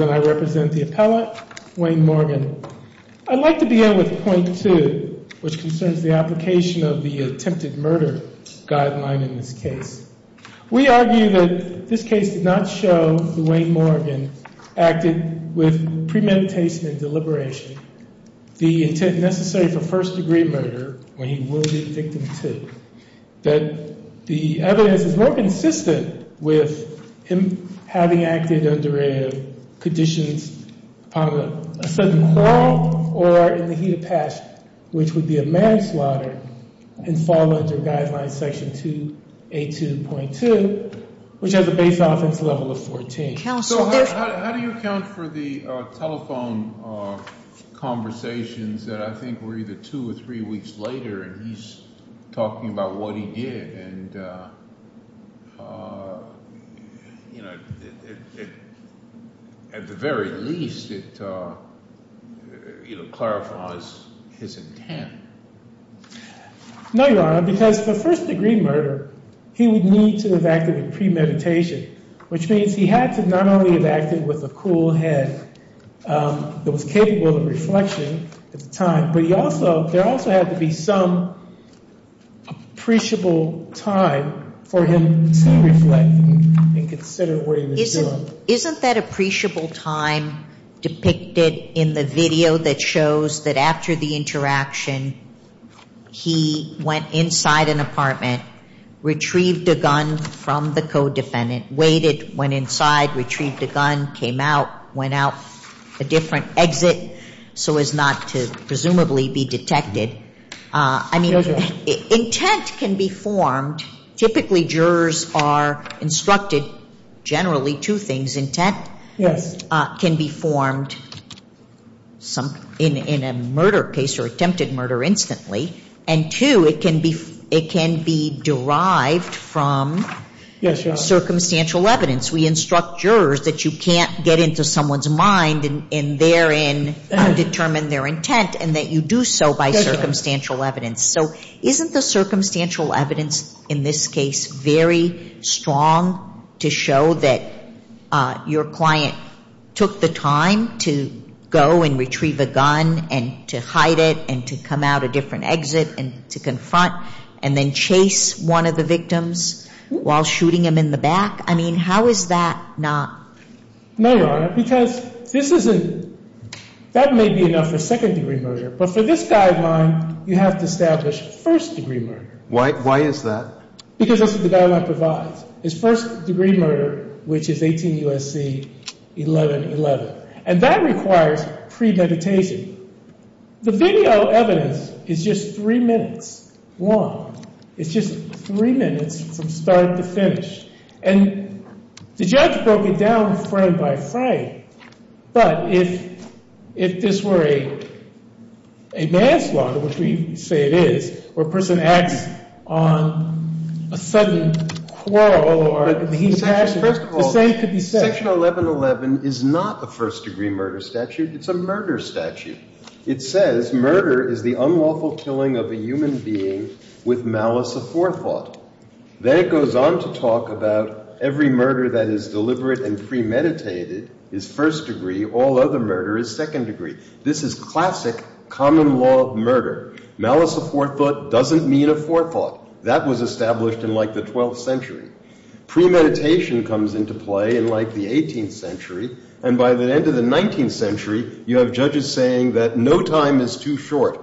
and I represent the appellate Wayne Morgan. I'd like to begin with point two which concerns the application of the attempted murder guideline in this case. We argue that this case did not show that Wayne Morgan acted with premeditation and deliberation, the intent necessary for first degree murder when he will be a victim too. That the evidence is more consistent with him having acted under conditions of a sudden crawl or in the heat of passion which would be a manslaughter and fall under guideline section 282.2 which has a base offense level of 14. So how do you account for the telephone conversations that I think were either two or three weeks later and he's talking about what he did and at the very least it clarifies his intent. No, Your Honor, because for first degree murder he would need to have acted in premeditation which means he had to not only have acted with a cool head that was capable of reflection at the time but there also had to be some appreciable time for him to reflect and consider where he was going. Isn't that appreciable time depicted in the video that shows that after the interaction he went inside an apartment, retrieved a gun from the co-defendant, waited, went inside, retrieved a gun, came out, went out a different exit so as not to presumably be detected. I mean intent can be formed. Typically jurors are instructed generally two things. Intent can be formed in a murder case or attempted murder instantly and two, it can be derived from circumstantial evidence. We instruct jurors that you can't get into someone's mind and therein determine their intent and that you do so by circumstantial evidence. So isn't the circumstantial evidence in this case very strong to show that your client took the time to go and retrieve a gun and to hide it and to come out a different exit and to confront and then chase one of the victims while shooting him in the back? I mean how is that not? No, Your Honor, because this isn't, that may be enough for second degree murder but for this guideline you have to establish first degree murder. Why is that? Because that's what the guideline provides. It's first degree murder which is 18 U.S.C. 1111 and that requires premeditation. The video evidence is just three minutes long. It's just three minutes from start to finish and the judge broke it down frame by frame but if this were a manslaughter, which we say it is, where a person acts on a sudden quarrel or he's acting, the same could be said. Section 1111 is not a first degree murder statute. It's a murder statute. It says murder is the unlawful killing of a human being with malice aforethought. Then it goes on to talk about every murder that is deliberate and premeditated is first degree. All other murder is second degree. This is classic common law murder. Malice aforethought doesn't mean aforethought. That was established in like the 12th century. Premeditation comes into play in like the 18th century and by the end of the 19th century you have judges saying that no time is too short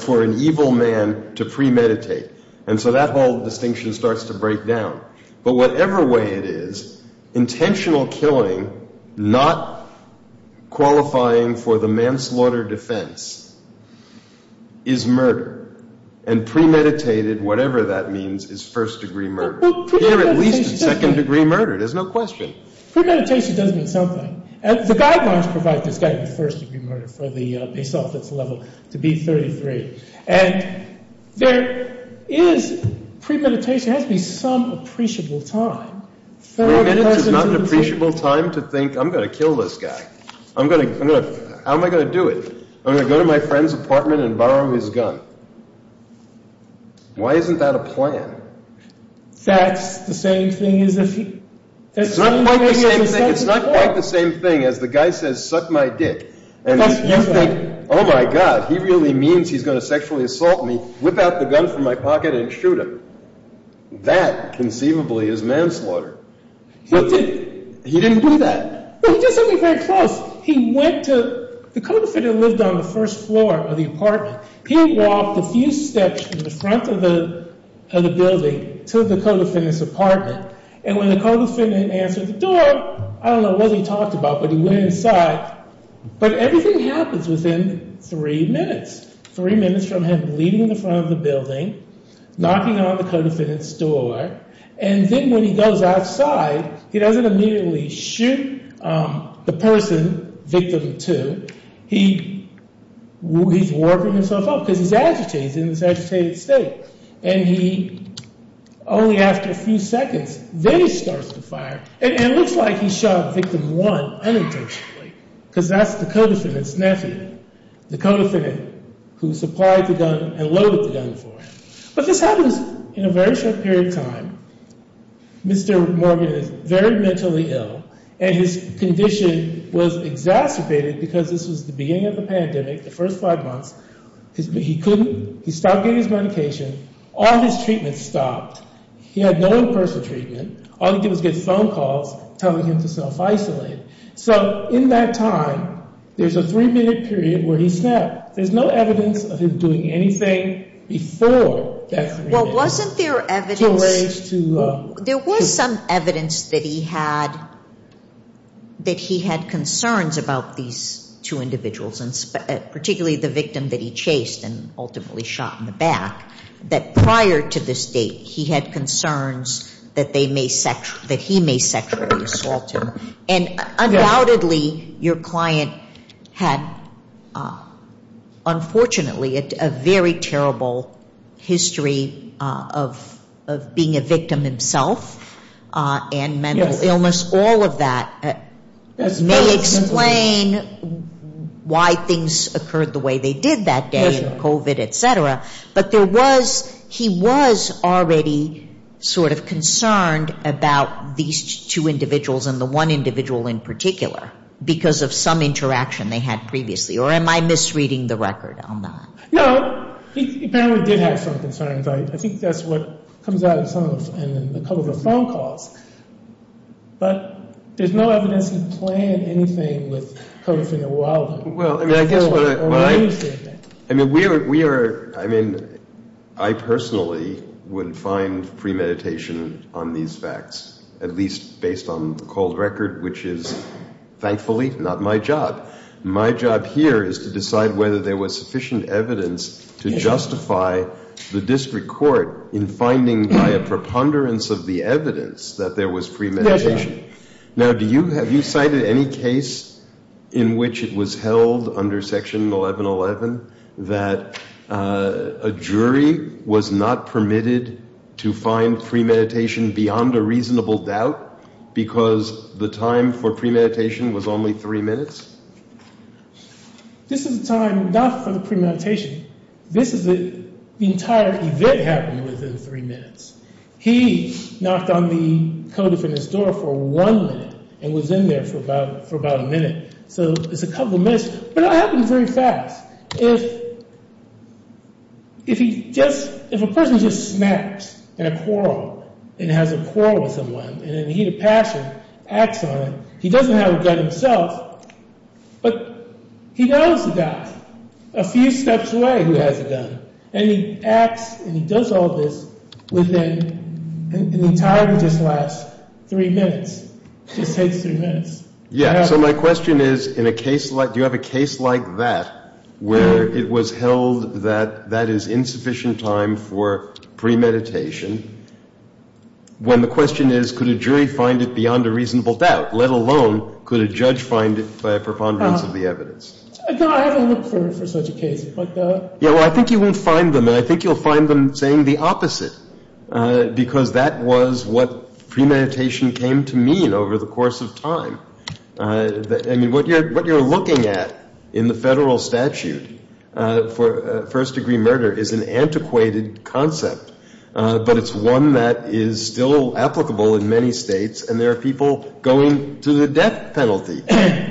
for an evil man to premeditate and so that whole distinction starts to break down. But whatever way it is, intentional killing not qualifying for the manslaughter defense is murder and premeditated, whatever that means, is first degree murder. Here at least it's second degree murder. There's no question. Premeditation does mean something and the guidelines provide this guy with first degree murder for the base office level to be 33. And there is premeditation. There has to be some appreciable time. Three minutes is not an appreciable time to think I'm going to kill this guy. I'm going to, I'm going to, how am I going to do it? I'm going to go to my friend's apartment and borrow his gun. Why isn't that a plan? That's the same thing as if he. It's not quite the same thing as the guy says suck my dick. Oh my God, he really means he's going to sexually assault me, whip out the gun from my pocket and shoot him. That conceivably is manslaughter. He didn't do that. He did something very close. He went to, the co-defendant lived on the first floor of the apartment. He walked a few steps to the front of the building to the co-defendant's apartment and when the co-defendant answered the door, I don't know what he talked about, but he went inside. But everything happens within three minutes. Three minutes from him leaving the front of the building, knocking on the co-defendant's door, and then when he goes outside, he doesn't immediately shoot the person, victim two. He's warping himself up because he's agitated, he's in this agitated state. And he, only after a few seconds, then he starts to fire. And it looks like he shot victim one unintentionally because that's the co-defendant's nephew, the co-defendant who supplied the gun and loaded the gun for him. But this happens in a very short period of time. Mr. Morgan is very mentally ill and his condition was exacerbated because this was the beginning of the pandemic, the first five months. He couldn't, he stopped getting his medication. All his treatments stopped. He had no in-person treatment. All he did was get phone calls telling him to self-isolate. So in that time, there's a three-minute period where he snapped. There's no evidence of him doing anything before that three minutes. Well, wasn't there evidence? There was some evidence that he had, that he had concerns about these two individuals, particularly the victim that he chased and ultimately shot in the back, that prior to this date, he had concerns that they may, that he may sexually assault him. And undoubtedly, your client had, unfortunately, a very terrible history of being a victim himself and mental illness. All of that may explain why things occurred the way they did that day, COVID, et cetera. But there was, he was already sort of concerned about these two individuals and the one individual in particular because of some interaction they had previously. Or am I misreading the record on that? No, he apparently did have some concerns. I think that's what comes out in some of the COVID phone calls. But there's no evidence to plan anything with COVID in the wild. Well, I mean, I guess what I, I mean, we are, we are, I mean, I personally wouldn't find premeditation on these facts, at least based on the cold record, which is thankfully not my job. My job here is to decide whether there was sufficient evidence to justify the district court in finding by a preponderance of the evidence that there was premeditation. Now, do you, have you cited any case in which it was held under Section 1111 that a jury was not permitted to find premeditation beyond a reasonable doubt because the time for premeditation was only three minutes? This is the time not for the premeditation. This is the entire event happening within three minutes. He knocked on the COVID fitness door for one minute and was in there for about, for about a minute. So it's a couple of minutes, but it happens very fast. If, if he just, if a person just snaps in a quarrel and has a quarrel with someone and he had a passion, acts on it, he doesn't have a gun himself, but he knows a guy a few steps away who has a gun. And he acts and he does all this within, and the time just lasts three minutes. It just takes three minutes. Yeah, so my question is, in a case like, do you have a case like that where it was held that that is insufficient time for premeditation when the question is could a jury find it beyond a reasonable doubt, let alone could a judge find it by a preponderance of the evidence? No, I haven't looked for such a case. Yeah, well, I think you won't find them, and I think you'll find them saying the opposite because that was what premeditation came to mean over the course of time. I mean, what you're, what you're looking at in the federal statute for first degree murder is an antiquated concept, but it's one that is still applicable in many states, and there are people going to the death penalty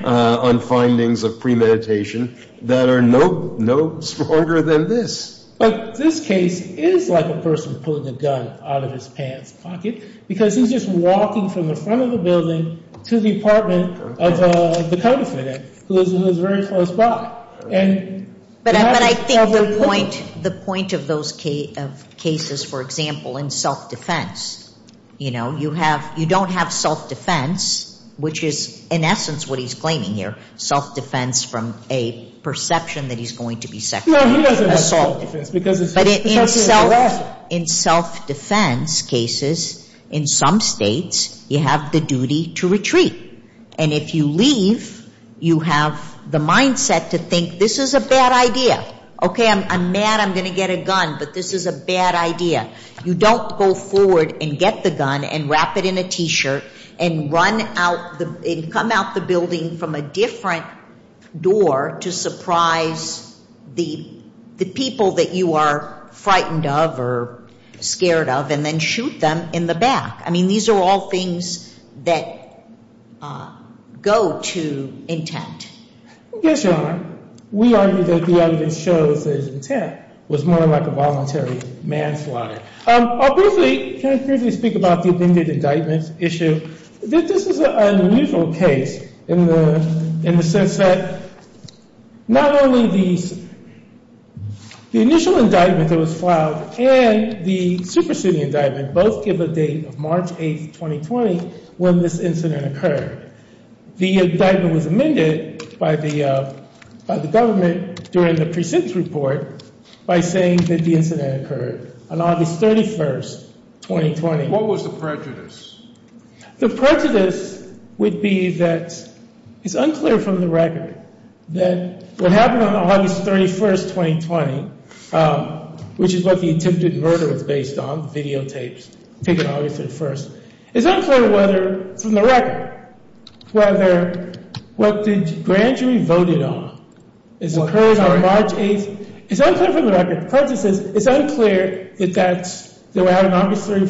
on findings of premeditation that are no stronger than this. But this case is like a person pulling a gun out of his pants pocket because he's just walking from the front of the building to the apartment of the co-defendant who is very close by. But I think the point of those cases, for example, in self-defense, you know, you have, you don't have self-defense, which is in essence what he's claiming here, self-defense from a perception that he's going to be sexually assaulted. No, he doesn't have self-defense. But in self-defense cases, in some states, you have the duty to retreat. And if you leave, you have the mindset to think this is a bad idea. Okay, I'm mad I'm going to get a gun, but this is a bad idea. You don't go forward and get the gun and wrap it in a T-shirt and run out and come out the building from a different door to surprise the people that you are frightened of or scared of and then shoot them in the back. I mean, these are all things that go to intent. Yes, Your Honor. We argue that the evidence shows that his intent was more like a voluntary manslaughter. I'll briefly, can I briefly speak about the amended indictment issue? This is an unusual case in the sense that not only the initial indictment that was filed and the superseding indictment both give a date of March 8, 2020, when this incident occurred. The indictment was amended by the government during the precinct report by saying that the incident occurred on August 31, 2020. What was the prejudice? The prejudice would be that it's unclear from the record that what happened on August 31, 2020, which is what the attempted murder was based on, videotapes, taken August 31, it's unclear whether from the record whether what the grand jury voted on is occurring on March 8. It's unclear from the record. The prejudice is it's unclear that that's the way out on August 31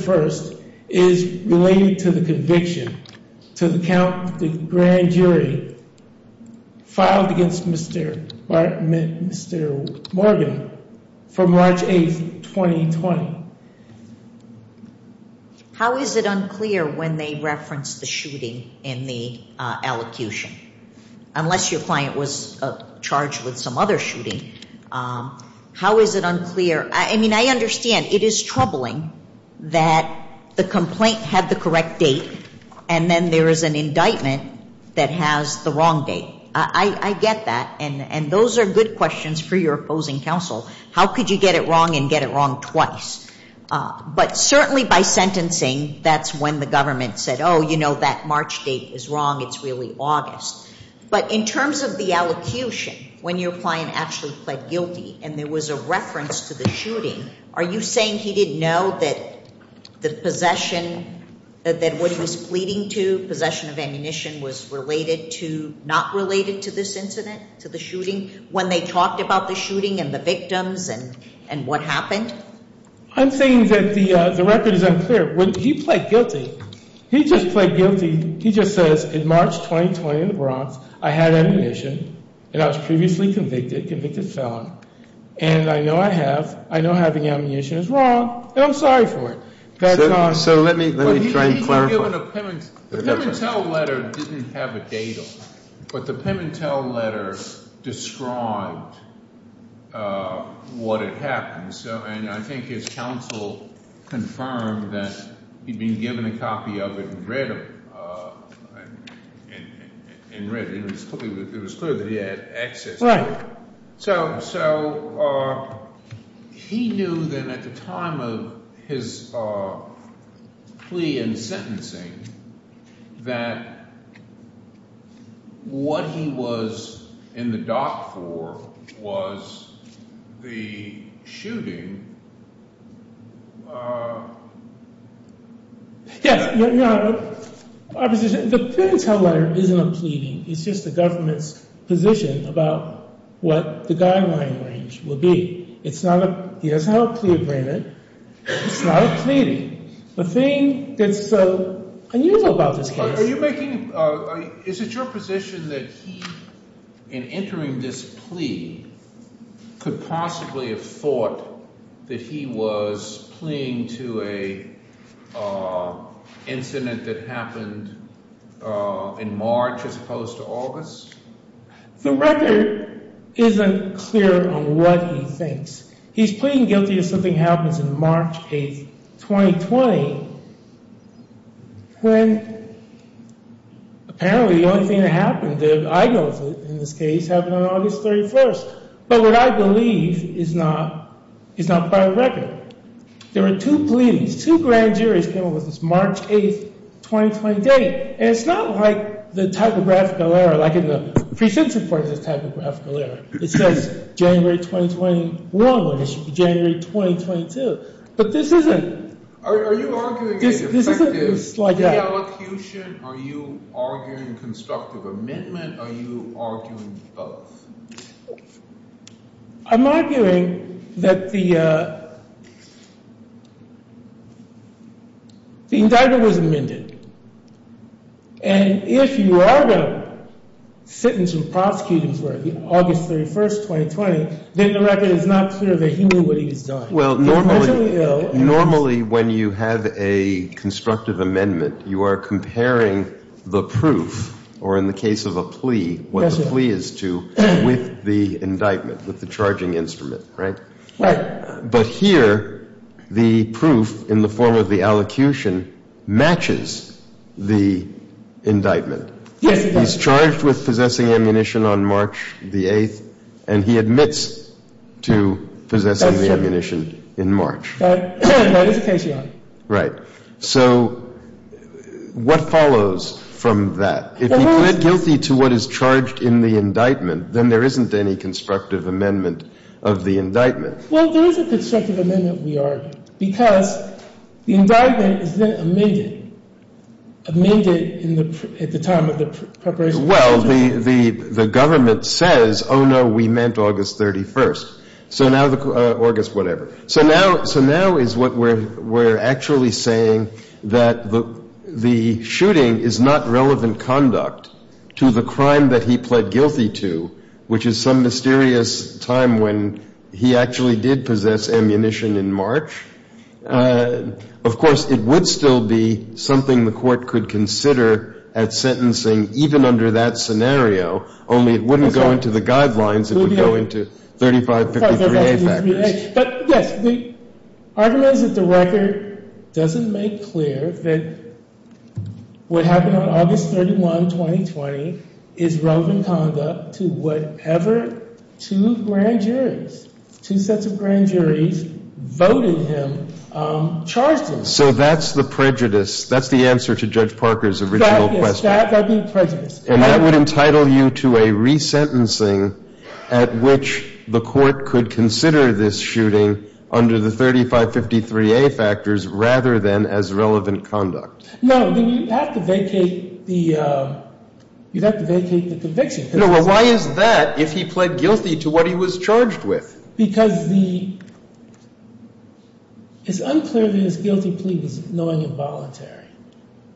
is related to the conviction, to the grand jury filed against Mr. Morgan from March 8, 2020. How is it unclear when they reference the shooting in the allocution? Unless your client was charged with some other shooting, how is it unclear? I mean, I understand it is troubling that the complaint had the correct date and then there is an indictment that has the wrong date. I get that, and those are good questions for your opposing counsel. How could you get it wrong and get it wrong twice? But certainly by sentencing, that's when the government said, oh, you know, that March date is wrong. It's really August. But in terms of the allocution, when your client actually pled guilty and there was a reference to the shooting, are you saying he didn't know that the possession, that what he was pleading to, possession of ammunition was related to, not related to this incident, to the shooting, when they talked about the shooting and the victims and what happened? I'm saying that the record is unclear. When he pled guilty, he just pled guilty. He just says, in March 2020 in the Bronx, I had ammunition and I was previously convicted, convicted felon, and I know I have, I know having ammunition is wrong, and I'm sorry for it. So let me try and clarify. The Pimentel letter didn't have a date on it, but the Pimentel letter described what had happened. And I think his counsel confirmed that he'd been given a copy of it and read it. It was clear that he had access to it. So he knew then at the time of his plea and sentencing that what he was in the dock for was the shooting. Yes. Our position, the Pimentel letter isn't a pleading. It's just the government's position about what the guideline range would be. It's not a, he doesn't have a plea agreement. It's not a pleading. The thing that's so unusual about this case. Are you making, is it your position that he, in entering this plea, could possibly have thought that he was pleading to an incident that happened in March as opposed to August? The record isn't clear on what he thinks. He's pleading guilty if something happens in March 8th, 2020, when apparently the only thing that happened that I know of in this case happened on August 31st. But what I believe is not, is not by record. There were two pleadings, two grand juries came up with this March 8th, 2020 date. And it's not like the typographical error, like in the pre-sentence report is a typographical error. It says January 2021, when it should be January 2022. But this isn't. Are you arguing it's effective reallocution? Are you arguing constructive amendment? Are you arguing both? I'm arguing that the indictment was amended. And if you are going to sentence or prosecute him for August 31st, 2020, then the record is not clear that he knew what he was doing. Well, normally when you have a constructive amendment, you are comparing the proof, or in the case of a plea, what the plea is to, with the indictment, with the charging instrument, right? Right. But here, the proof in the form of the allocution matches the indictment. Yes, it does. He's charged with possessing ammunition on March the 8th, and he admits to possessing the ammunition in March. That is a case you are on. Right. So what follows from that? If he pled guilty to what is charged in the indictment, then there isn't any constructive amendment of the indictment. Well, there is a constructive amendment, we argue, because the indictment is then amended, amended at the time of the preparation. Well, the government says, oh, no, we meant August 31st. So now the – August whatever. So now is what we're actually saying, that the shooting is not relevant conduct to the crime that he pled guilty to, which is some mysterious time when he actually did possess ammunition in March. Of course, it would still be something the Court could consider at sentencing even under that scenario, only it wouldn't go into the guidelines. It would go into 3553A factors. But, yes, the argument is that the record doesn't make clear that what happened on August 31, 2020, is relevant conduct to whatever two grand juries, two sets of grand juries, voted him, charged him. So that's the prejudice. That's the answer to Judge Parker's original question. That, yes. That being prejudice. And that would entitle you to a resentencing at which the Court could consider this shooting under the 3553A factors rather than as relevant conduct. No, you'd have to vacate the conviction. Well, why is that if he pled guilty to what he was charged with? Because the — it's unclear that his guilty plea was knowing and voluntary,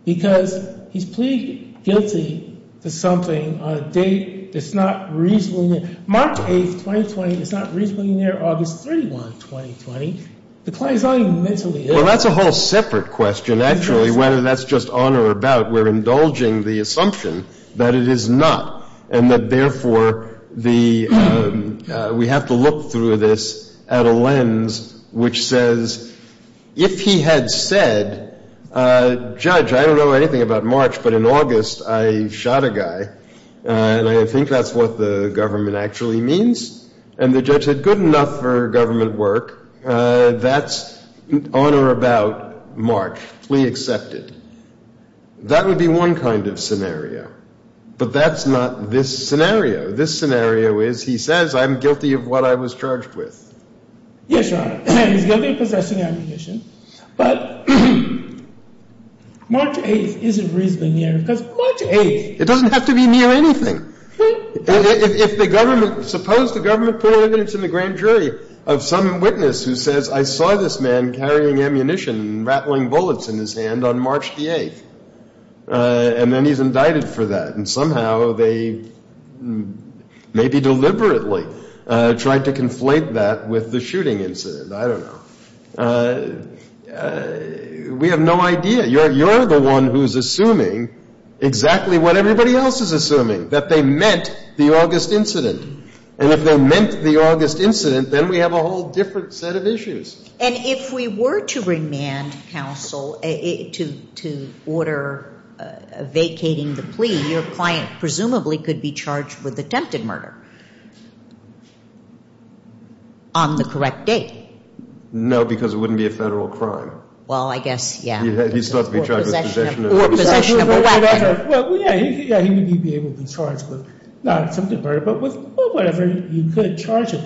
because he's pleaded guilty to something on a date that's not reasonably near. March 8, 2020 is not reasonably near August 31, 2020. The client is not even mentally ill. Well, that's a whole separate question, actually, whether that's just on or about. We're indulging the assumption that it is not, and that, therefore, the — we have to look through this at a lens which says, if he had said, Judge, I don't know anything about March, but in August I shot a guy, and I think that's what the government actually means. And the judge said, good enough for government work. That's on or about March. Plea accepted. That would be one kind of scenario. But that's not this scenario. This scenario is, he says, I'm guilty of what I was charged with. Yes, Your Honor. He's guilty of possessing ammunition. But March 8 isn't reasonably near, because March 8 — It doesn't have to be near anything. If the government — suppose the government put evidence in the grand jury of some witness who says, I saw this man carrying ammunition and rattling bullets in his hand on March the 8th. And then he's indicted for that. And somehow they maybe deliberately tried to conflate that with the shooting incident. I don't know. We have no idea. You're the one who's assuming exactly what everybody else is assuming, that they meant the August incident. And if they meant the August incident, then we have a whole different set of issues. And if we were to remand counsel to order vacating the plea, your client presumably could be charged with attempted murder on the correct date. No, because it wouldn't be a federal crime. Well, I guess, yeah. He's thought to be charged with possession of a weapon. Well, yeah. He would be able to be charged with not attempted murder, but with whatever you could charge him.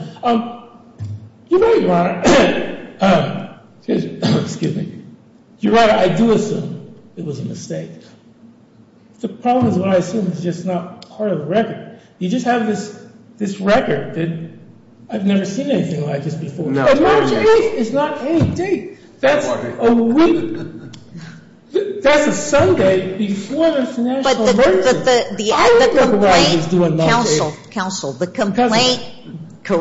You're right, Your Honor. Excuse me. Your Honor, I do assume it was a mistake. The problem is what I assume is just not part of the record. You just have this record that I've never seen anything like this before. And March 8th is not any date. That's a week. That's a Sunday before the national emergency. I don't know why he was doing March 8th. Counsel, counsel, the complaint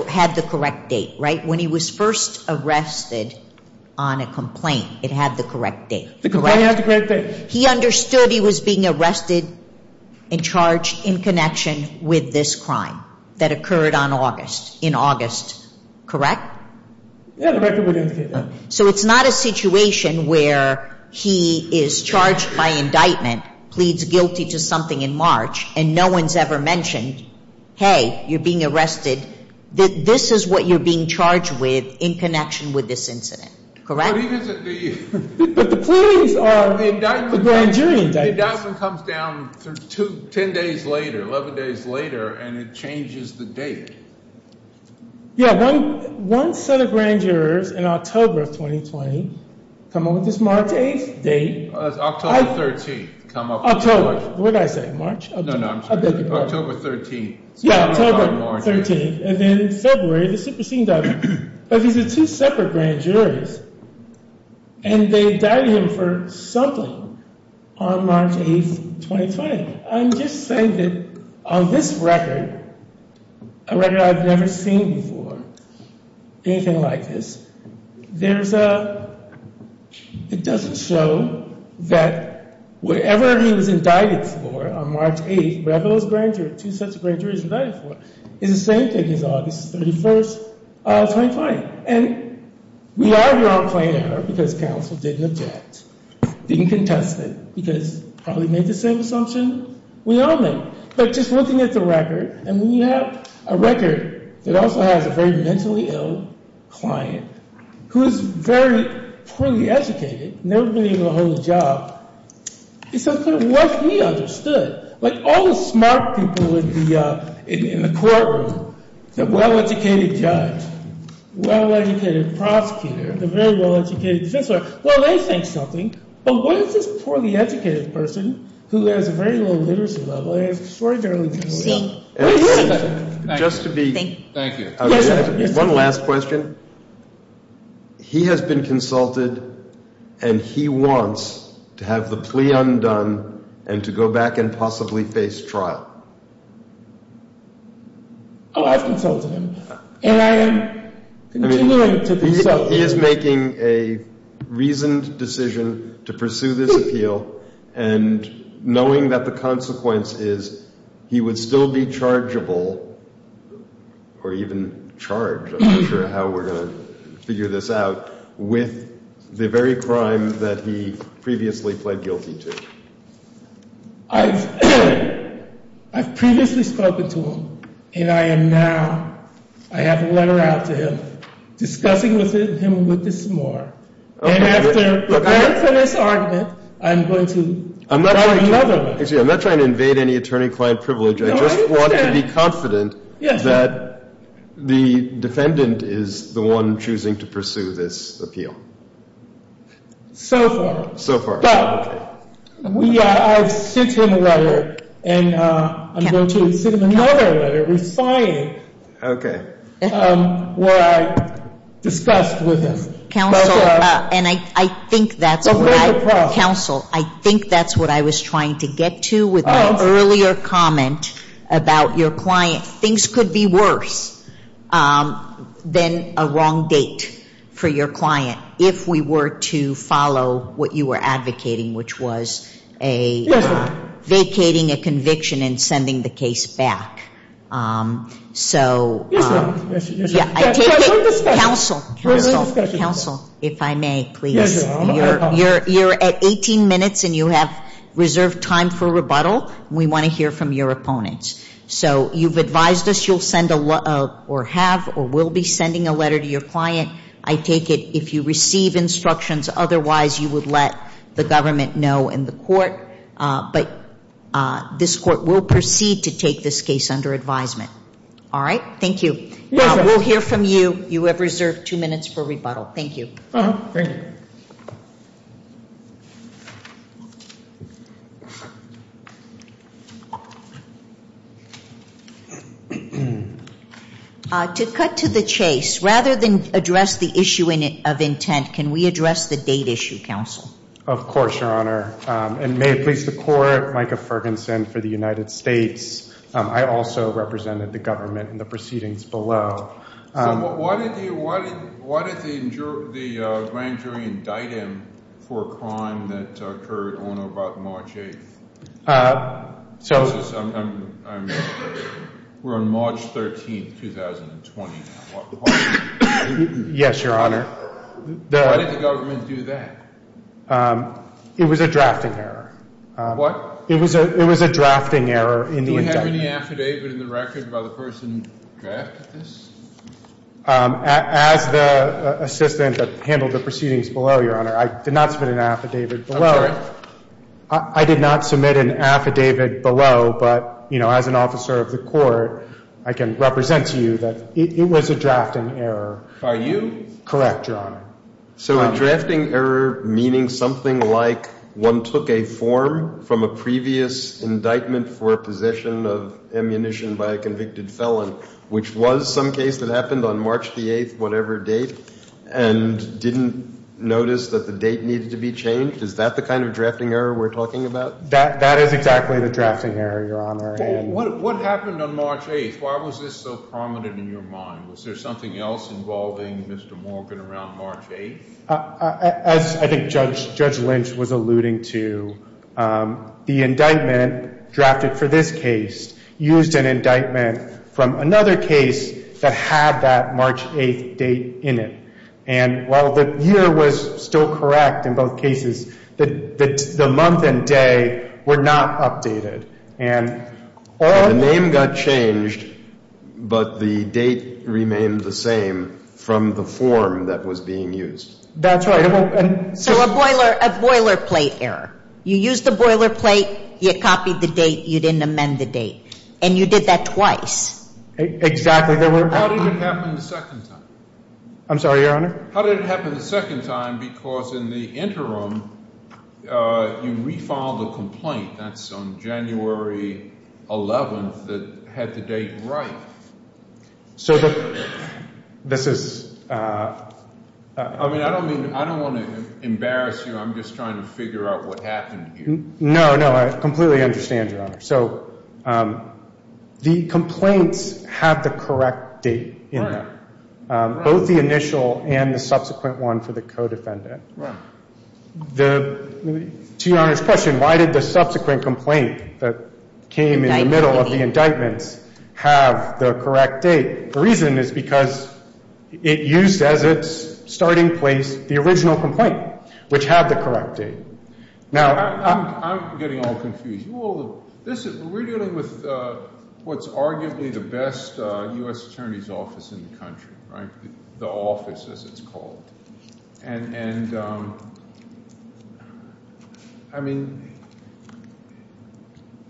had the correct date, right? When he was first arrested on a complaint, it had the correct date, correct? The complaint had the correct date. He understood he was being arrested and charged in connection with this crime that occurred on August, in August, correct? Yeah, the record would indicate that. So it's not a situation where he is charged by indictment, pleads guilty to something in March, and no one's ever mentioned, hey, you're being arrested. This is what you're being charged with in connection with this incident, correct? But the pleadings are a grand jury indictment. The indictment comes down 10 days later, 11 days later, and it changes the date. Yeah, one set of grand jurors in October of 2020 come up with this March 8th date. It's October 13th. October. What did I say, March? No, no, I'm sorry. October 13th. Yeah, October 13th. And then in February, the superseding document. But these are two separate grand juries, and they died him for something on March 8th, 2020. I'm just saying that on this record, a record I've never seen before, anything like this, there's a, it doesn't show that whatever he was indicted for on March 8th, whatever those grand juries, two sets of grand juries he was indicted for, is the same thing as August 31st, 2020. And we are here on claim error because counsel didn't object, didn't contest it, because probably made the same assumption we all made. But just looking at the record, and we have a record that also has a very mentally ill client who is very poorly educated, never been able to hold a job. It's unclear what he understood. Like, all the smart people in the courtroom, the well-educated judge, well-educated prosecutor, the very well-educated defense lawyer, well, they think something. But what is this poorly educated person, who has a very low literacy level, and has extraordinarily little? Thank you. One last question. He has been consulted, and he wants to have the plea undone and to go back and possibly face trial. Oh, I've consulted him. And I am continuing to consult him. So he is making a reasoned decision to pursue this appeal, and knowing that the consequence is he would still be chargeable, or even charged, I'm not sure how we're going to figure this out, with the very crime that he previously pled guilty to. I've previously spoken to him, and I am now, I have a letter out to him, discussing with him a little bit more. And after preparing for this argument, I'm going to write another one. I'm not trying to invade any attorney-client privilege. I just want to be confident that the defendant is the one choosing to pursue this appeal. So far. So far. But I've sent him a letter, and I'm going to send him another letter, reciting what I discussed with him. Counsel, and I think that's what I was trying to get to with my earlier comment about your client. Things could be worse than a wrong date for your client, if we were to follow what you were advocating, which was vacating a conviction and sending the case back. Yes, ma'am. Yes, ma'am. Counsel, counsel, counsel, if I may, please. You're at 18 minutes, and you have reserved time for rebuttal. We want to hear from your opponents. So you've advised us you'll send or have or will be sending a letter to your client. I take it if you receive instructions, otherwise you would let the government know and the court. But this court will proceed to take this case under advisement. All right? Thank you. We'll hear from you. You have reserved two minutes for rebuttal. Thank you. Thank you. To cut to the chase, rather than address the issue of intent, can we address the date issue, counsel? Of course, Your Honor. And may it please the Court, Micah Ferguson for the United States. I also represented the government in the proceedings below. Why did the grand jury indict him for a crime that occurred on or about March 8th? We're on March 13th, 2020. Yes, Your Honor. Why did the government do that? It was a drafting error. What? It was a drafting error in the indictment. Do you have any affidavit in the record by the person who drafted this? As the assistant that handled the proceedings below, Your Honor, I did not submit an affidavit below. Okay. I did not submit an affidavit below, but, you know, as an officer of the court, I can represent to you that it was a drafting error. Are you? Correct, Your Honor. So a drafting error meaning something like one took a form from a previous indictment for possession of ammunition by a convicted felon, which was some case that happened on March the 8th, whatever date, and didn't notice that the date needed to be changed? Is that the kind of drafting error we're talking about? That is exactly the drafting error, Your Honor. What happened on March 8th? Why was this so prominent in your mind? Was there something else involving Mr. Morgan around March 8th? As I think Judge Lynch was alluding to, the indictment drafted for this case used an indictment from another case that had that March 8th date in it. And while the year was still correct in both cases, the month and day were not updated. The name got changed, but the date remained the same from the form that was being used. That's right. So a boilerplate error. You used the boilerplate, you copied the date, you didn't amend the date. And you did that twice. Exactly. How did it happen the second time? I'm sorry, Your Honor? How did it happen the second time? Because in the interim, you refiled the complaint. That's on January 11th that had the date right. So this is— I mean, I don't want to embarrass you. I'm just trying to figure out what happened here. No, no. I completely understand, Your Honor. So the complaints have the correct date in them. Both the initial and the subsequent one for the co-defendant. To Your Honor's question, why did the subsequent complaint that came in the middle of the indictments have the correct date? The reason is because it used as its starting place the original complaint, which had the correct date. I'm getting all confused. We're dealing with what's arguably the best U.S. attorney's office in the country, right? The office, as it's called. And, I mean,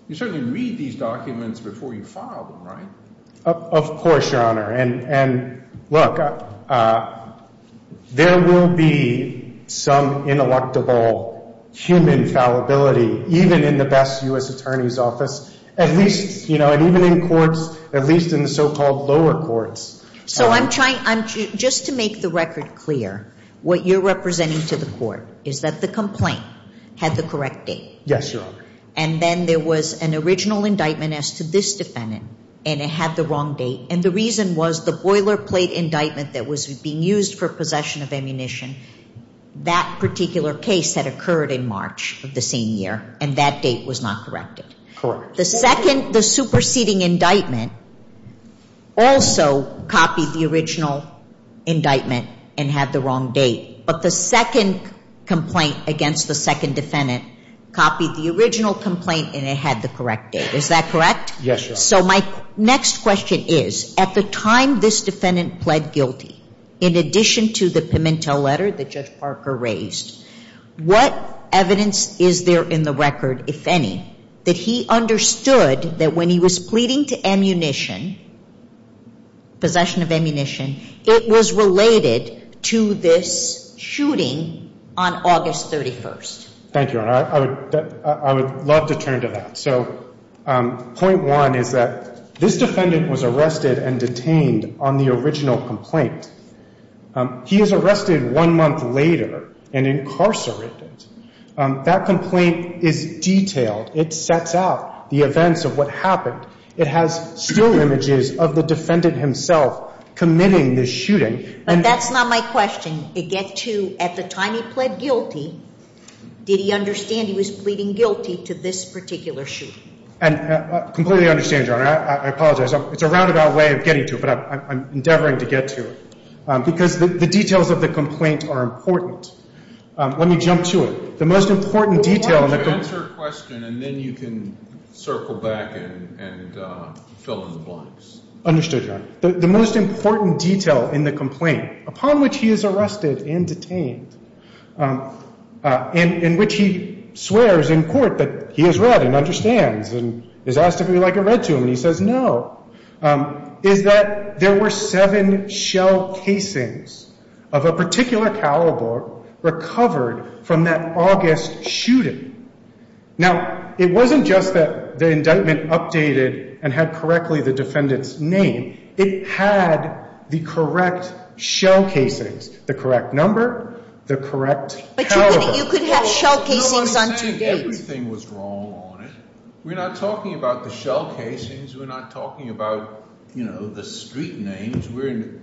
you certainly read these documents before you file them, right? Of course, Your Honor. And, look, there will be some ineluctable human fallibility, even in the best U.S. attorney's office. At least, you know, and even in courts, at least in the so-called lower courts. So I'm trying—just to make the record clear, what you're representing to the court is that the complaint had the correct date. Yes, Your Honor. And then there was an original indictment as to this defendant, and it had the wrong date. And the reason was the boilerplate indictment that was being used for possession of ammunition, that particular case had occurred in March of the same year, and that date was not corrected. The second—the superseding indictment also copied the original indictment and had the wrong date. But the second complaint against the second defendant copied the original complaint, and it had the correct date. Is that correct? Yes, Your Honor. So my next question is, at the time this defendant pled guilty, in addition to the pimentel letter that Judge Parker raised, what evidence is there in the record, if any, that he understood that when he was pleading to ammunition, possession of ammunition, it was related to this shooting on August 31st? Thank you, Your Honor. I would love to turn to that. So point one is that this defendant was arrested and detained on the original complaint. He is arrested one month later and incarcerated. That complaint is detailed. It sets out the events of what happened. It has still images of the defendant himself committing this shooting. But that's not my question. It gets to, at the time he pled guilty, did he understand he was pleading guilty to this particular shooting? I completely understand, Your Honor. I apologize. It's a roundabout way of getting to it, but I'm endeavoring to get to it. Because the details of the complaint are important. Let me jump to it. The most important detail— Answer her question, and then you can circle back and fill in the blanks. Understood, Your Honor. The most important detail in the complaint, upon which he is arrested and detained, in which he swears in court that he has read and understands and is asked if he would like it read to him, and he says no, is that there were seven shell casings of a particular caliber recovered from that August shooting. Now, it wasn't just that the indictment updated and had correctly the defendant's name. It had the correct shell casings, the correct number, the correct caliber. But you could have shell casings on two dates. Everything was wrong on it. We're not talking about the shell casings. We're not talking about, you know, the street names.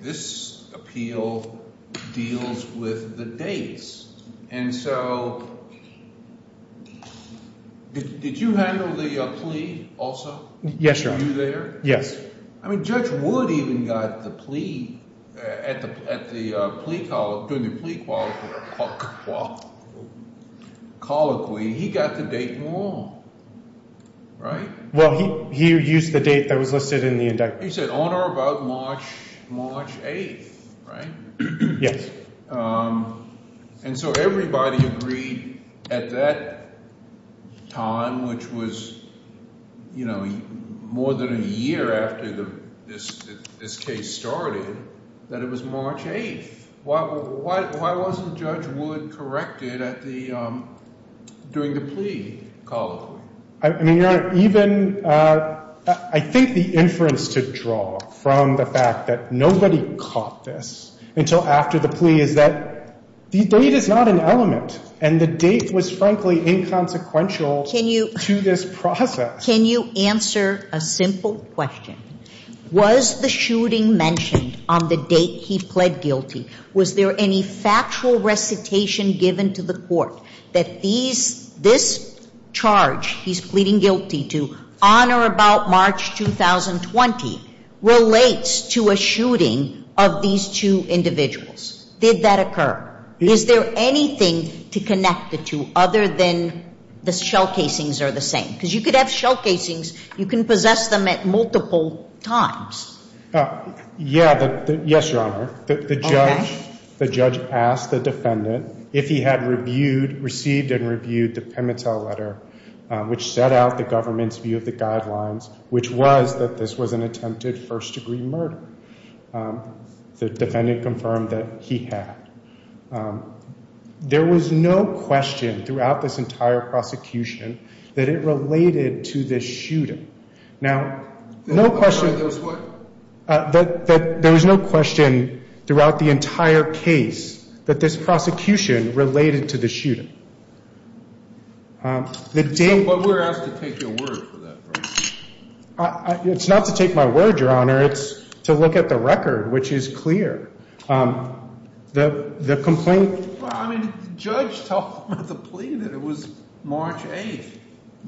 This appeal deals with the dates. And so did you handle the plea also? Yes, Your Honor. Were you there? Yes. I mean, Judge Wood even got the plea at the plea colloquy. He got the date wrong, right? Well, he used the date that was listed in the indictment. He said on or about March 8th, right? Yes. And so everybody agreed at that time, which was, you know, more than a year after this case started, that it was March 8th. Why wasn't Judge Wood corrected at the ‑‑ during the plea colloquy? I mean, Your Honor, even I think the inference to draw from the fact that nobody caught this until after the plea is that the date is not an element. And the date was, frankly, inconsequential to this process. Can you answer a simple question? Was the shooting mentioned on the date he pled guilty? Was there any factual recitation given to the court that this charge he's pleading guilty to on or about March 2020 relates to a shooting of these two individuals? Did that occur? Is there anything to connect the two other than the shell casings are the same? Because you could have shell casings, you can possess them at multiple times. Yeah, yes, Your Honor. Okay. The judge asked the defendant if he had received and reviewed the Pimitel letter, which set out the government's view of the guidelines, which was that this was an attempted first‑degree murder. The defendant confirmed that he had. There was no question throughout this entire prosecution that it related to this shooting. Now, no question that there was no question throughout the entire case that this prosecution related to the shooting. But we're asked to take your word for that. It's not to take my word, Your Honor. It's to look at the record, which is clear. The complaint. I mean, the judge told him at the plea that it was March 8th.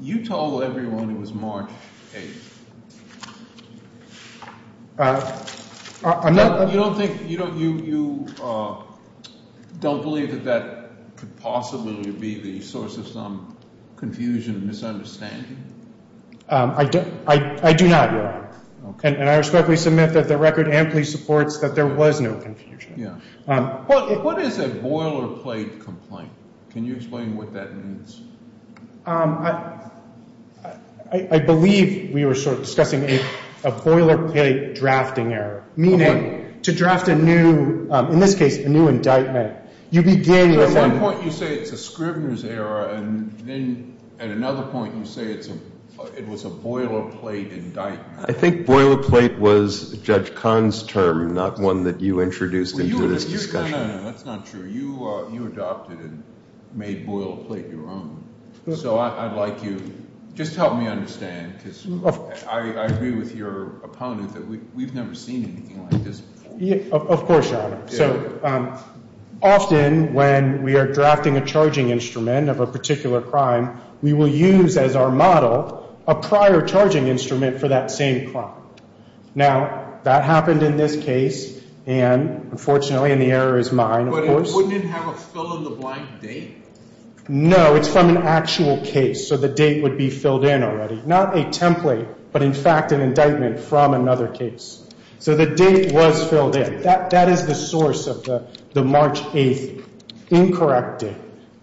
You told everyone it was March 8th. You don't think, you don't believe that that could possibly be the source of some confusion and misunderstanding? I do not, Your Honor. And I respectfully submit that the record amply supports that there was no confusion. What is a boilerplate complaint? Can you explain what that means? I believe we were sort of discussing a boilerplate drafting error, meaning to draft a new, in this case, a new indictment. You begin with that. At one point you say it's a Scribner's error, and then at another point you say it was a boilerplate indictment. I think boilerplate was Judge Kahn's term, not one that you introduced into this discussion. No, no, no, that's not true. You adopted and made boilerplate your own. So I'd like you just to help me understand, because I agree with your opponent that we've never seen anything like this before. Of course, Your Honor. So often when we are drafting a charging instrument of a particular crime, we will use as our model a prior charging instrument for that same crime. Now, that happened in this case, and unfortunately, and the error is mine, of course. But wouldn't it have a fill-in-the-blank date? No, it's from an actual case, so the date would be filled in already. Not a template, but in fact an indictment from another case. So the date was filled in. That is the source of the March 8th incorrect date.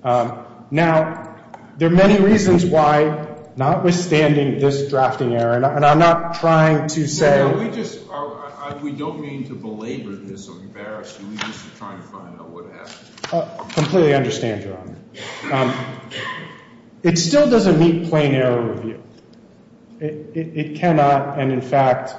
Now, there are many reasons why, notwithstanding this drafting error, and I'm not trying to say. We don't mean to belabor this or embarrass you. We're just trying to find out what happened. I completely understand, Your Honor. It still doesn't meet plain error review. It cannot, and in fact,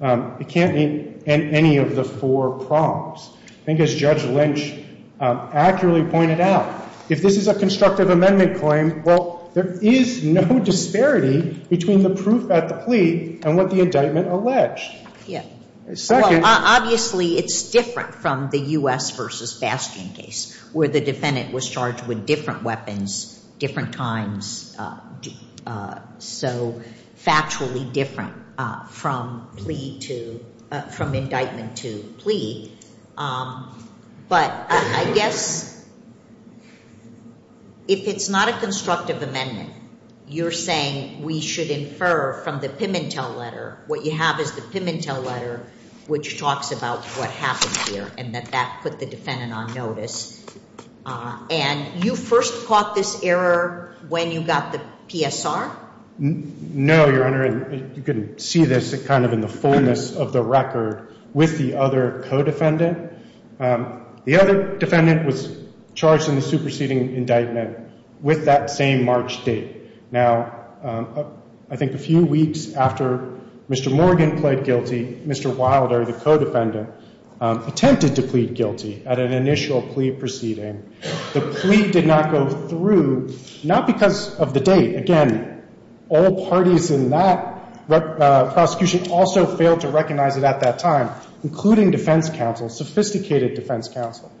it can't meet any of the four prompts. I think as Judge Lynch accurately pointed out, if this is a constructive amendment claim, well, there is no disparity between the proof at the plea and what the indictment alleged. Yeah. Second. Well, obviously, it's different from the U.S. v. Bastion case where the defendant was charged with different weapons, different times, so factually different from indictment to plea. But I guess if it's not a constructive amendment, you're saying we should infer from the Pimentel letter. What you have is the Pimentel letter, which talks about what happened here and that that put the defendant on notice. And you first caught this error when you got the PSR? No, Your Honor. You can see this kind of in the fullness of the record with the other co-defendant. The other defendant was charged in the superseding indictment with that same March date. Now, I think a few weeks after Mr. Morgan pled guilty, Mr. Wilder, the co-defendant, attempted to plead guilty at an initial plea proceeding. The plea did not go through, not because of the date. Again, all parties in that prosecution also failed to recognize it at that time, including defense counsel, sophisticated defense counsel.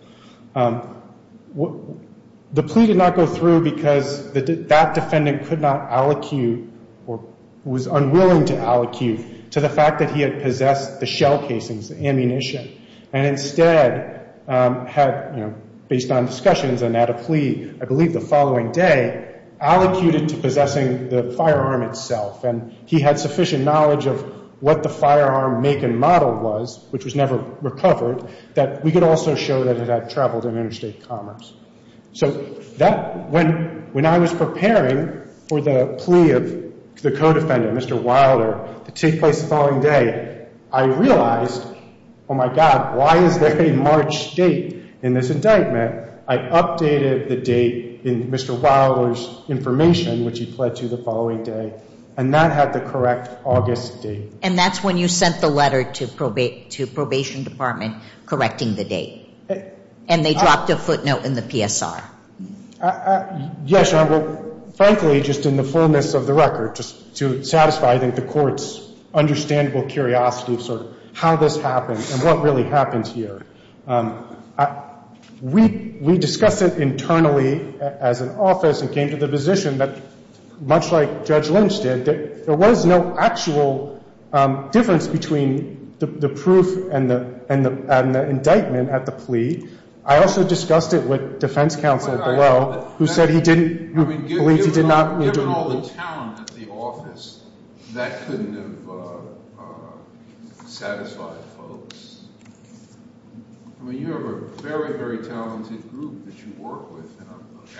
The plea did not go through because that defendant could not allocute or was unwilling to allocute to the fact that he had possessed the shell casings, the ammunition, and instead had, you know, based on discussions and at a plea I believe the following day, allocated to possessing the firearm itself. And he had sufficient knowledge of what the firearm make and model was, which was never recovered, that we could also show that it had traveled in interstate commerce. So when I was preparing for the plea of the co-defendant, Mr. Wilder, to take place the following day, I realized, oh, my God, why is there a March date in this indictment? I updated the date in Mr. Wilder's information, which he pled to the following day, and that had the correct August date. And that's when you sent the letter to probation department correcting the date. And they dropped a footnote in the PSR. Yes, Your Honor. Well, frankly, just in the fullness of the record, just to satisfy, I think, the Court's understandable curiosity of sort of how this happened and what really happened here. We discussed it internally as an office and came to the position that, much like Judge Lynch did, there was no actual difference between the proof and the indictment at the plea. I also discussed it with defense counsel below, who said he didn't believe he did not. I mean, given all the talent at the office, that couldn't have satisfied folks. I mean, you have a very, very talented group that you work with. An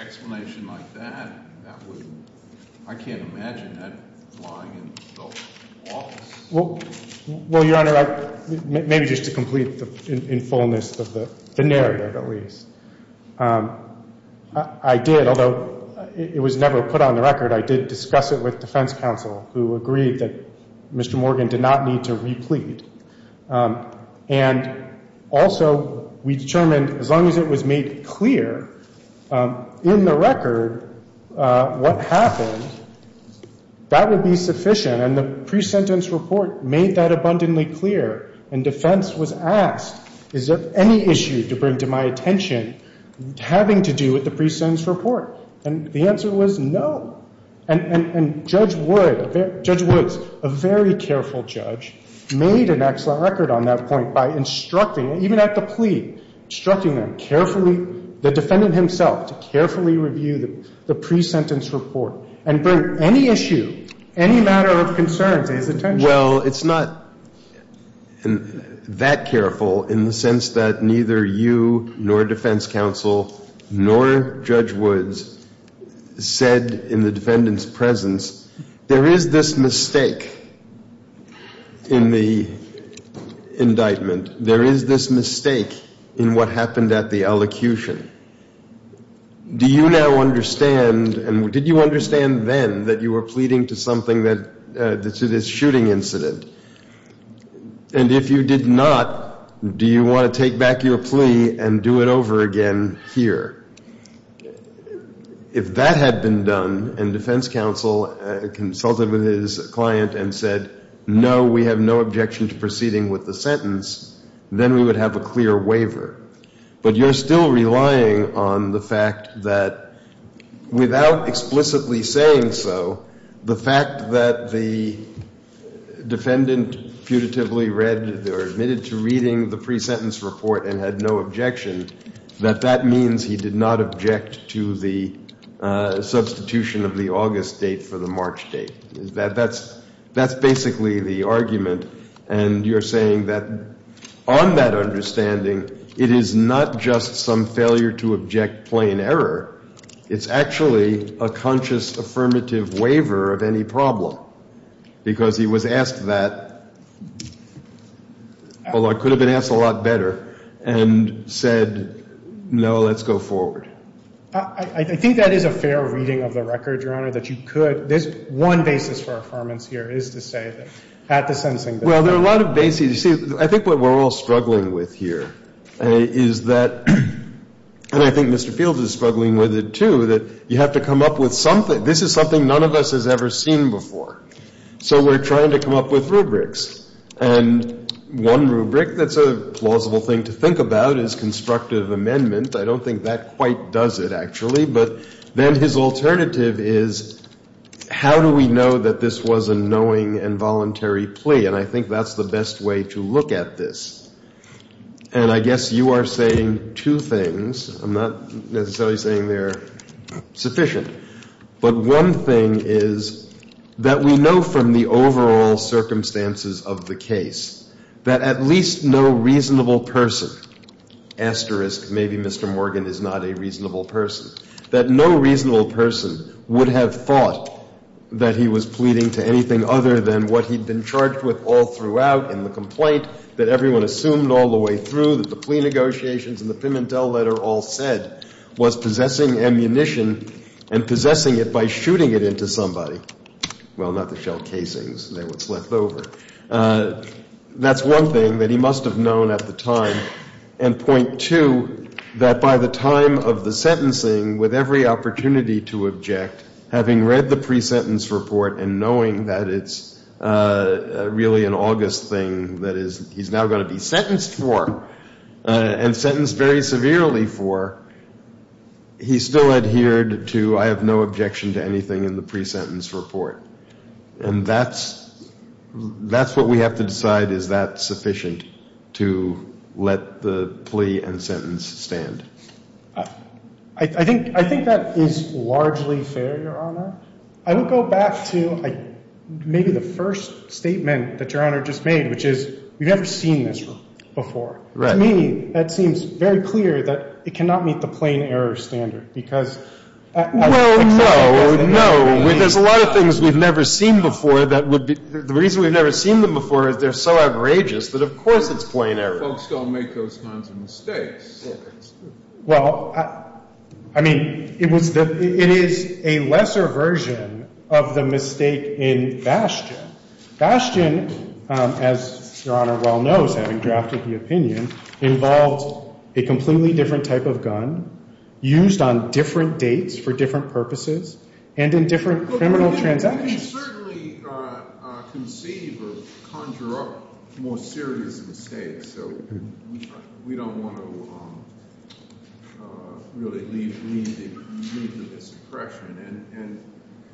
explanation like that, I can't imagine that lying in the office. Well, Your Honor, maybe just to complete in fullness of the narrative, at least. I did, although it was never put on the record, I did discuss it with defense counsel, who agreed that Mr. Morgan did not need to replete. And also we determined as long as it was made clear in the record what happened, that would be sufficient. And the pre-sentence report made that abundantly clear. And defense was asked, is there any issue to bring to my attention having to do with the pre-sentence report? And the answer was no. And Judge Wood, Judge Woods, a very careful judge, made an excellent record on that point by instructing, even at the plea, instructing them carefully, the defendant himself, to carefully review the pre-sentence report and bring any issue, any matter of concern to his attention. Well, it's not that careful in the sense that neither you nor defense counsel nor Judge Woods said in the defendant's presence, there is this mistake in the indictment. There is this mistake in what happened at the elocution. Do you now understand, and did you understand then that you were pleading to something that, to this shooting incident? And if you did not, do you want to take back your plea and do it over again here? If that had been done and defense counsel consulted with his client and said, no, we have no objection to proceeding with the sentence, then we would have a clear waiver. But you're still relying on the fact that without explicitly saying so, the fact that the defendant putatively read or admitted to reading the pre-sentence report and had no objection, that that means he did not object to the substitution of the August date for the March date. That's basically the argument. And you're saying that on that understanding, it is not just some failure to object plain error. It's actually a conscious affirmative waiver of any problem because he was asked that, although it could have been asked a lot better, and said, no, let's go forward. I think that is a fair reading of the record, Your Honor, that you could. There's one basis for affirmance here is to say that at the sensing that the defendant Well, there are a lot of bases. You see, I think what we're all struggling with here is that, and I think Mr. Fields is struggling with it, too, that you have to come up with something. This is something none of us has ever seen before. So we're trying to come up with rubrics. And one rubric that's a plausible thing to think about is constructive amendment. I don't think that quite does it, actually. But then his alternative is, how do we know that this was a knowing and voluntary plea? And I think that's the best way to look at this. And I guess you are saying two things. I'm not necessarily saying they're sufficient. But one thing is that we know from the overall circumstances of the case that at least no reasonable person, asterisk maybe Mr. Morgan is not a reasonable person, that no reasonable person would have thought that he was pleading to anything other than what he'd been charged with all throughout in the complaint, that everyone assumed all the way through, that the plea negotiations and the Pimentel letter all said was possessing ammunition and possessing it by shooting it into somebody. Well, not the shell casings. They're what's left over. That's one thing that he must have known at the time. And point two, that by the time of the sentencing, with every opportunity to object, having read the pre-sentence report and knowing that it's really an August thing that he's now going to be sentenced for and sentenced very severely for, he still adhered to I have no objection to anything in the pre-sentence report. And that's what we have to decide. Is that sufficient to let the plea and sentence stand? I think that is largely fair, Your Honor. I would go back to maybe the first statement that Your Honor just made, which is we've never seen this before. To me, that seems very clear that it cannot meet the plain error standard because Well, no, no. There's a lot of things we've never seen before. The reason we've never seen them before is they're so outrageous that, of course, it's plain error. Folks don't make those kinds of mistakes. Well, I mean, it is a lesser version of the mistake in Bastian. Bastian, as Your Honor well knows, having drafted the opinion, involved a completely different type of gun, used on different dates for different purposes, and in different criminal transactions. Well, we can certainly conceive or conjure up more serious mistakes, so we don't want to really lead to this oppression. And,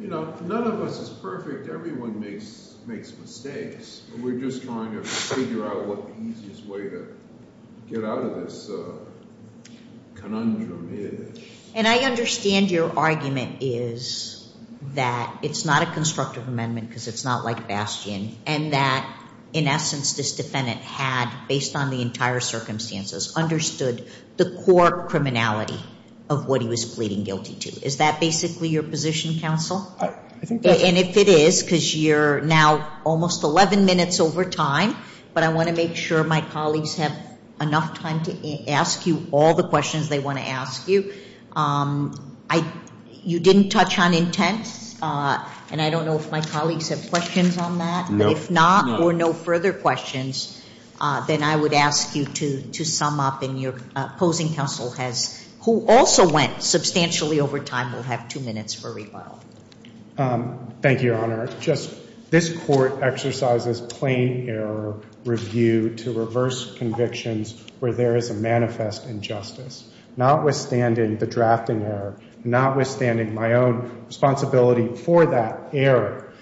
you know, none of us is perfect. Everyone makes mistakes. We're just trying to figure out what the easiest way to get out of this conundrum is. And I understand your argument is that it's not a constructive amendment because it's not like Bastian and that, in essence, this defendant had, based on the entire circumstances, understood the core criminality of what he was pleading guilty to. Is that basically your position, counsel? And if it is, because you're now almost 11 minutes over time, but I want to make sure my colleagues have enough time to ask you all the questions they want to ask you. You didn't touch on intent, and I don't know if my colleagues have questions on that. No. But if not or no further questions, then I would ask you to sum up, counsel, who also went substantially over time. We'll have two minutes for rebuttal. Thank you, Your Honor. This Court exercises plain error review to reverse convictions where there is a manifest injustice. Notwithstanding the drafting error, notwithstanding my own responsibility for that error,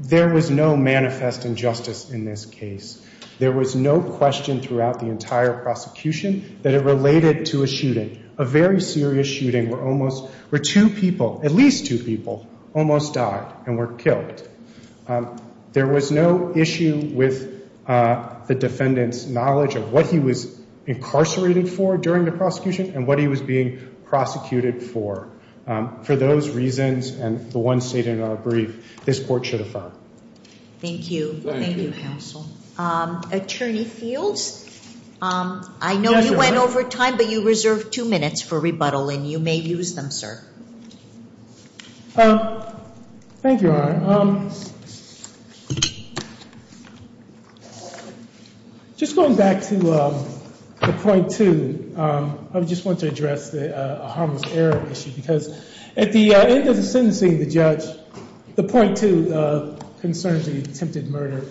there was no manifest injustice in this case. There was no question throughout the entire prosecution that it related to a shooting, a very serious shooting where two people, at least two people, almost died and were killed. There was no issue with the defendant's knowledge of what he was incarcerated for during the prosecution and what he was being prosecuted for. For those reasons and the ones stated in our brief, this Court should affirm. Thank you. Thank you, counsel. Attorney Fields? I know you went over time, but you reserved two minutes for rebuttal, and you may use them, sir. Thank you, Your Honor. Just going back to the point two, I just want to address the harmless error issue because at the end of the sentencing, the judge, the point two concerns the attempted murder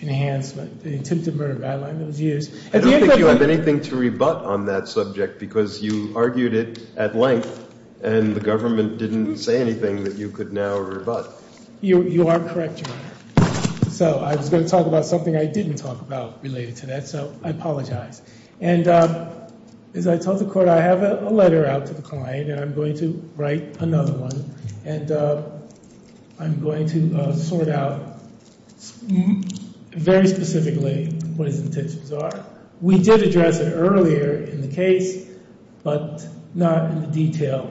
enhancement, the attempted murder guideline that was used. I don't think you have anything to rebut on that subject because you argued it at length and the government didn't say anything that you could now rebut. You are correct, Your Honor. So I was going to talk about something I didn't talk about related to that, so I apologize. And as I told the Court, I have a letter out to the client, and I'm going to write another one, and I'm going to sort out very specifically what his intentions are. We did address it earlier in the case, but not in the detail.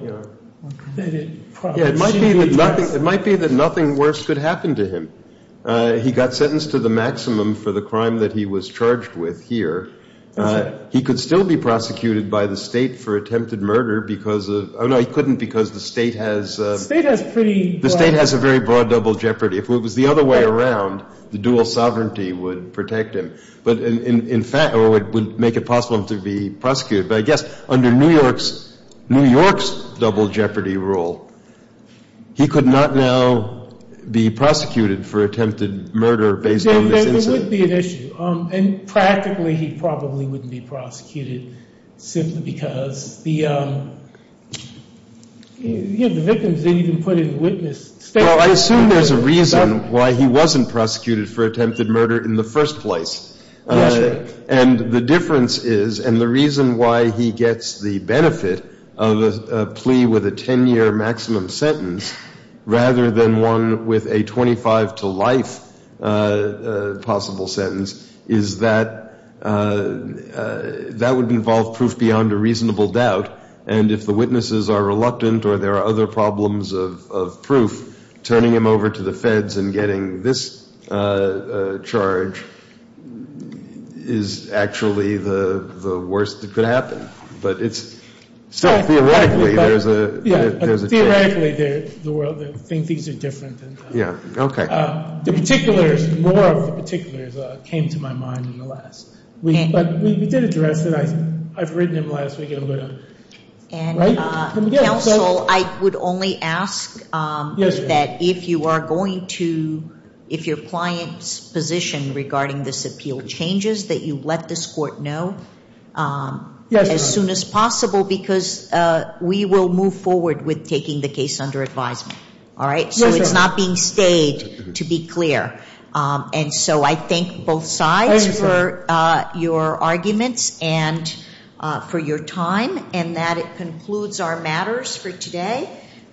It might be that nothing worse could happen to him. He got sentenced to the maximum for the crime that he was charged with here. He could still be prosecuted by the State for attempted murder because of the State has a very broad double jeopardy. If it was the other way around, the dual sovereignty would protect him, or it would make it possible for him to be prosecuted. But I guess under New York's double jeopardy rule, he could not now be prosecuted for attempted murder based on this incident. There would be an issue. And practically, he probably wouldn't be prosecuted simply because the victims didn't even put in witness statements. Well, I assume there's a reason why he wasn't prosecuted for attempted murder in the first place. That's right. And the difference is, and the reason why he gets the benefit of a plea with a ten-year maximum sentence rather than one with a 25 to life possible sentence, is that that would involve proof beyond a reasonable doubt. And if the witnesses are reluctant or there are other problems of proof, turning him over to the Feds and getting this charge is actually the worst that could happen. But it's still theoretically there's a chance. Theoretically, the world thinks things are different. Yeah, okay. The particulars, more of the particulars came to my mind in the last week. But we did address it. I've written him last week a little. And counsel, I would only ask that if you are going to, if your client's position regarding this appeal changes, that you let this court know as soon as possible because we will move forward with taking the case under advisement. All right? So it's not being stayed, to be clear. And so I thank both sides for your arguments and for your time and that it concludes our matters for today.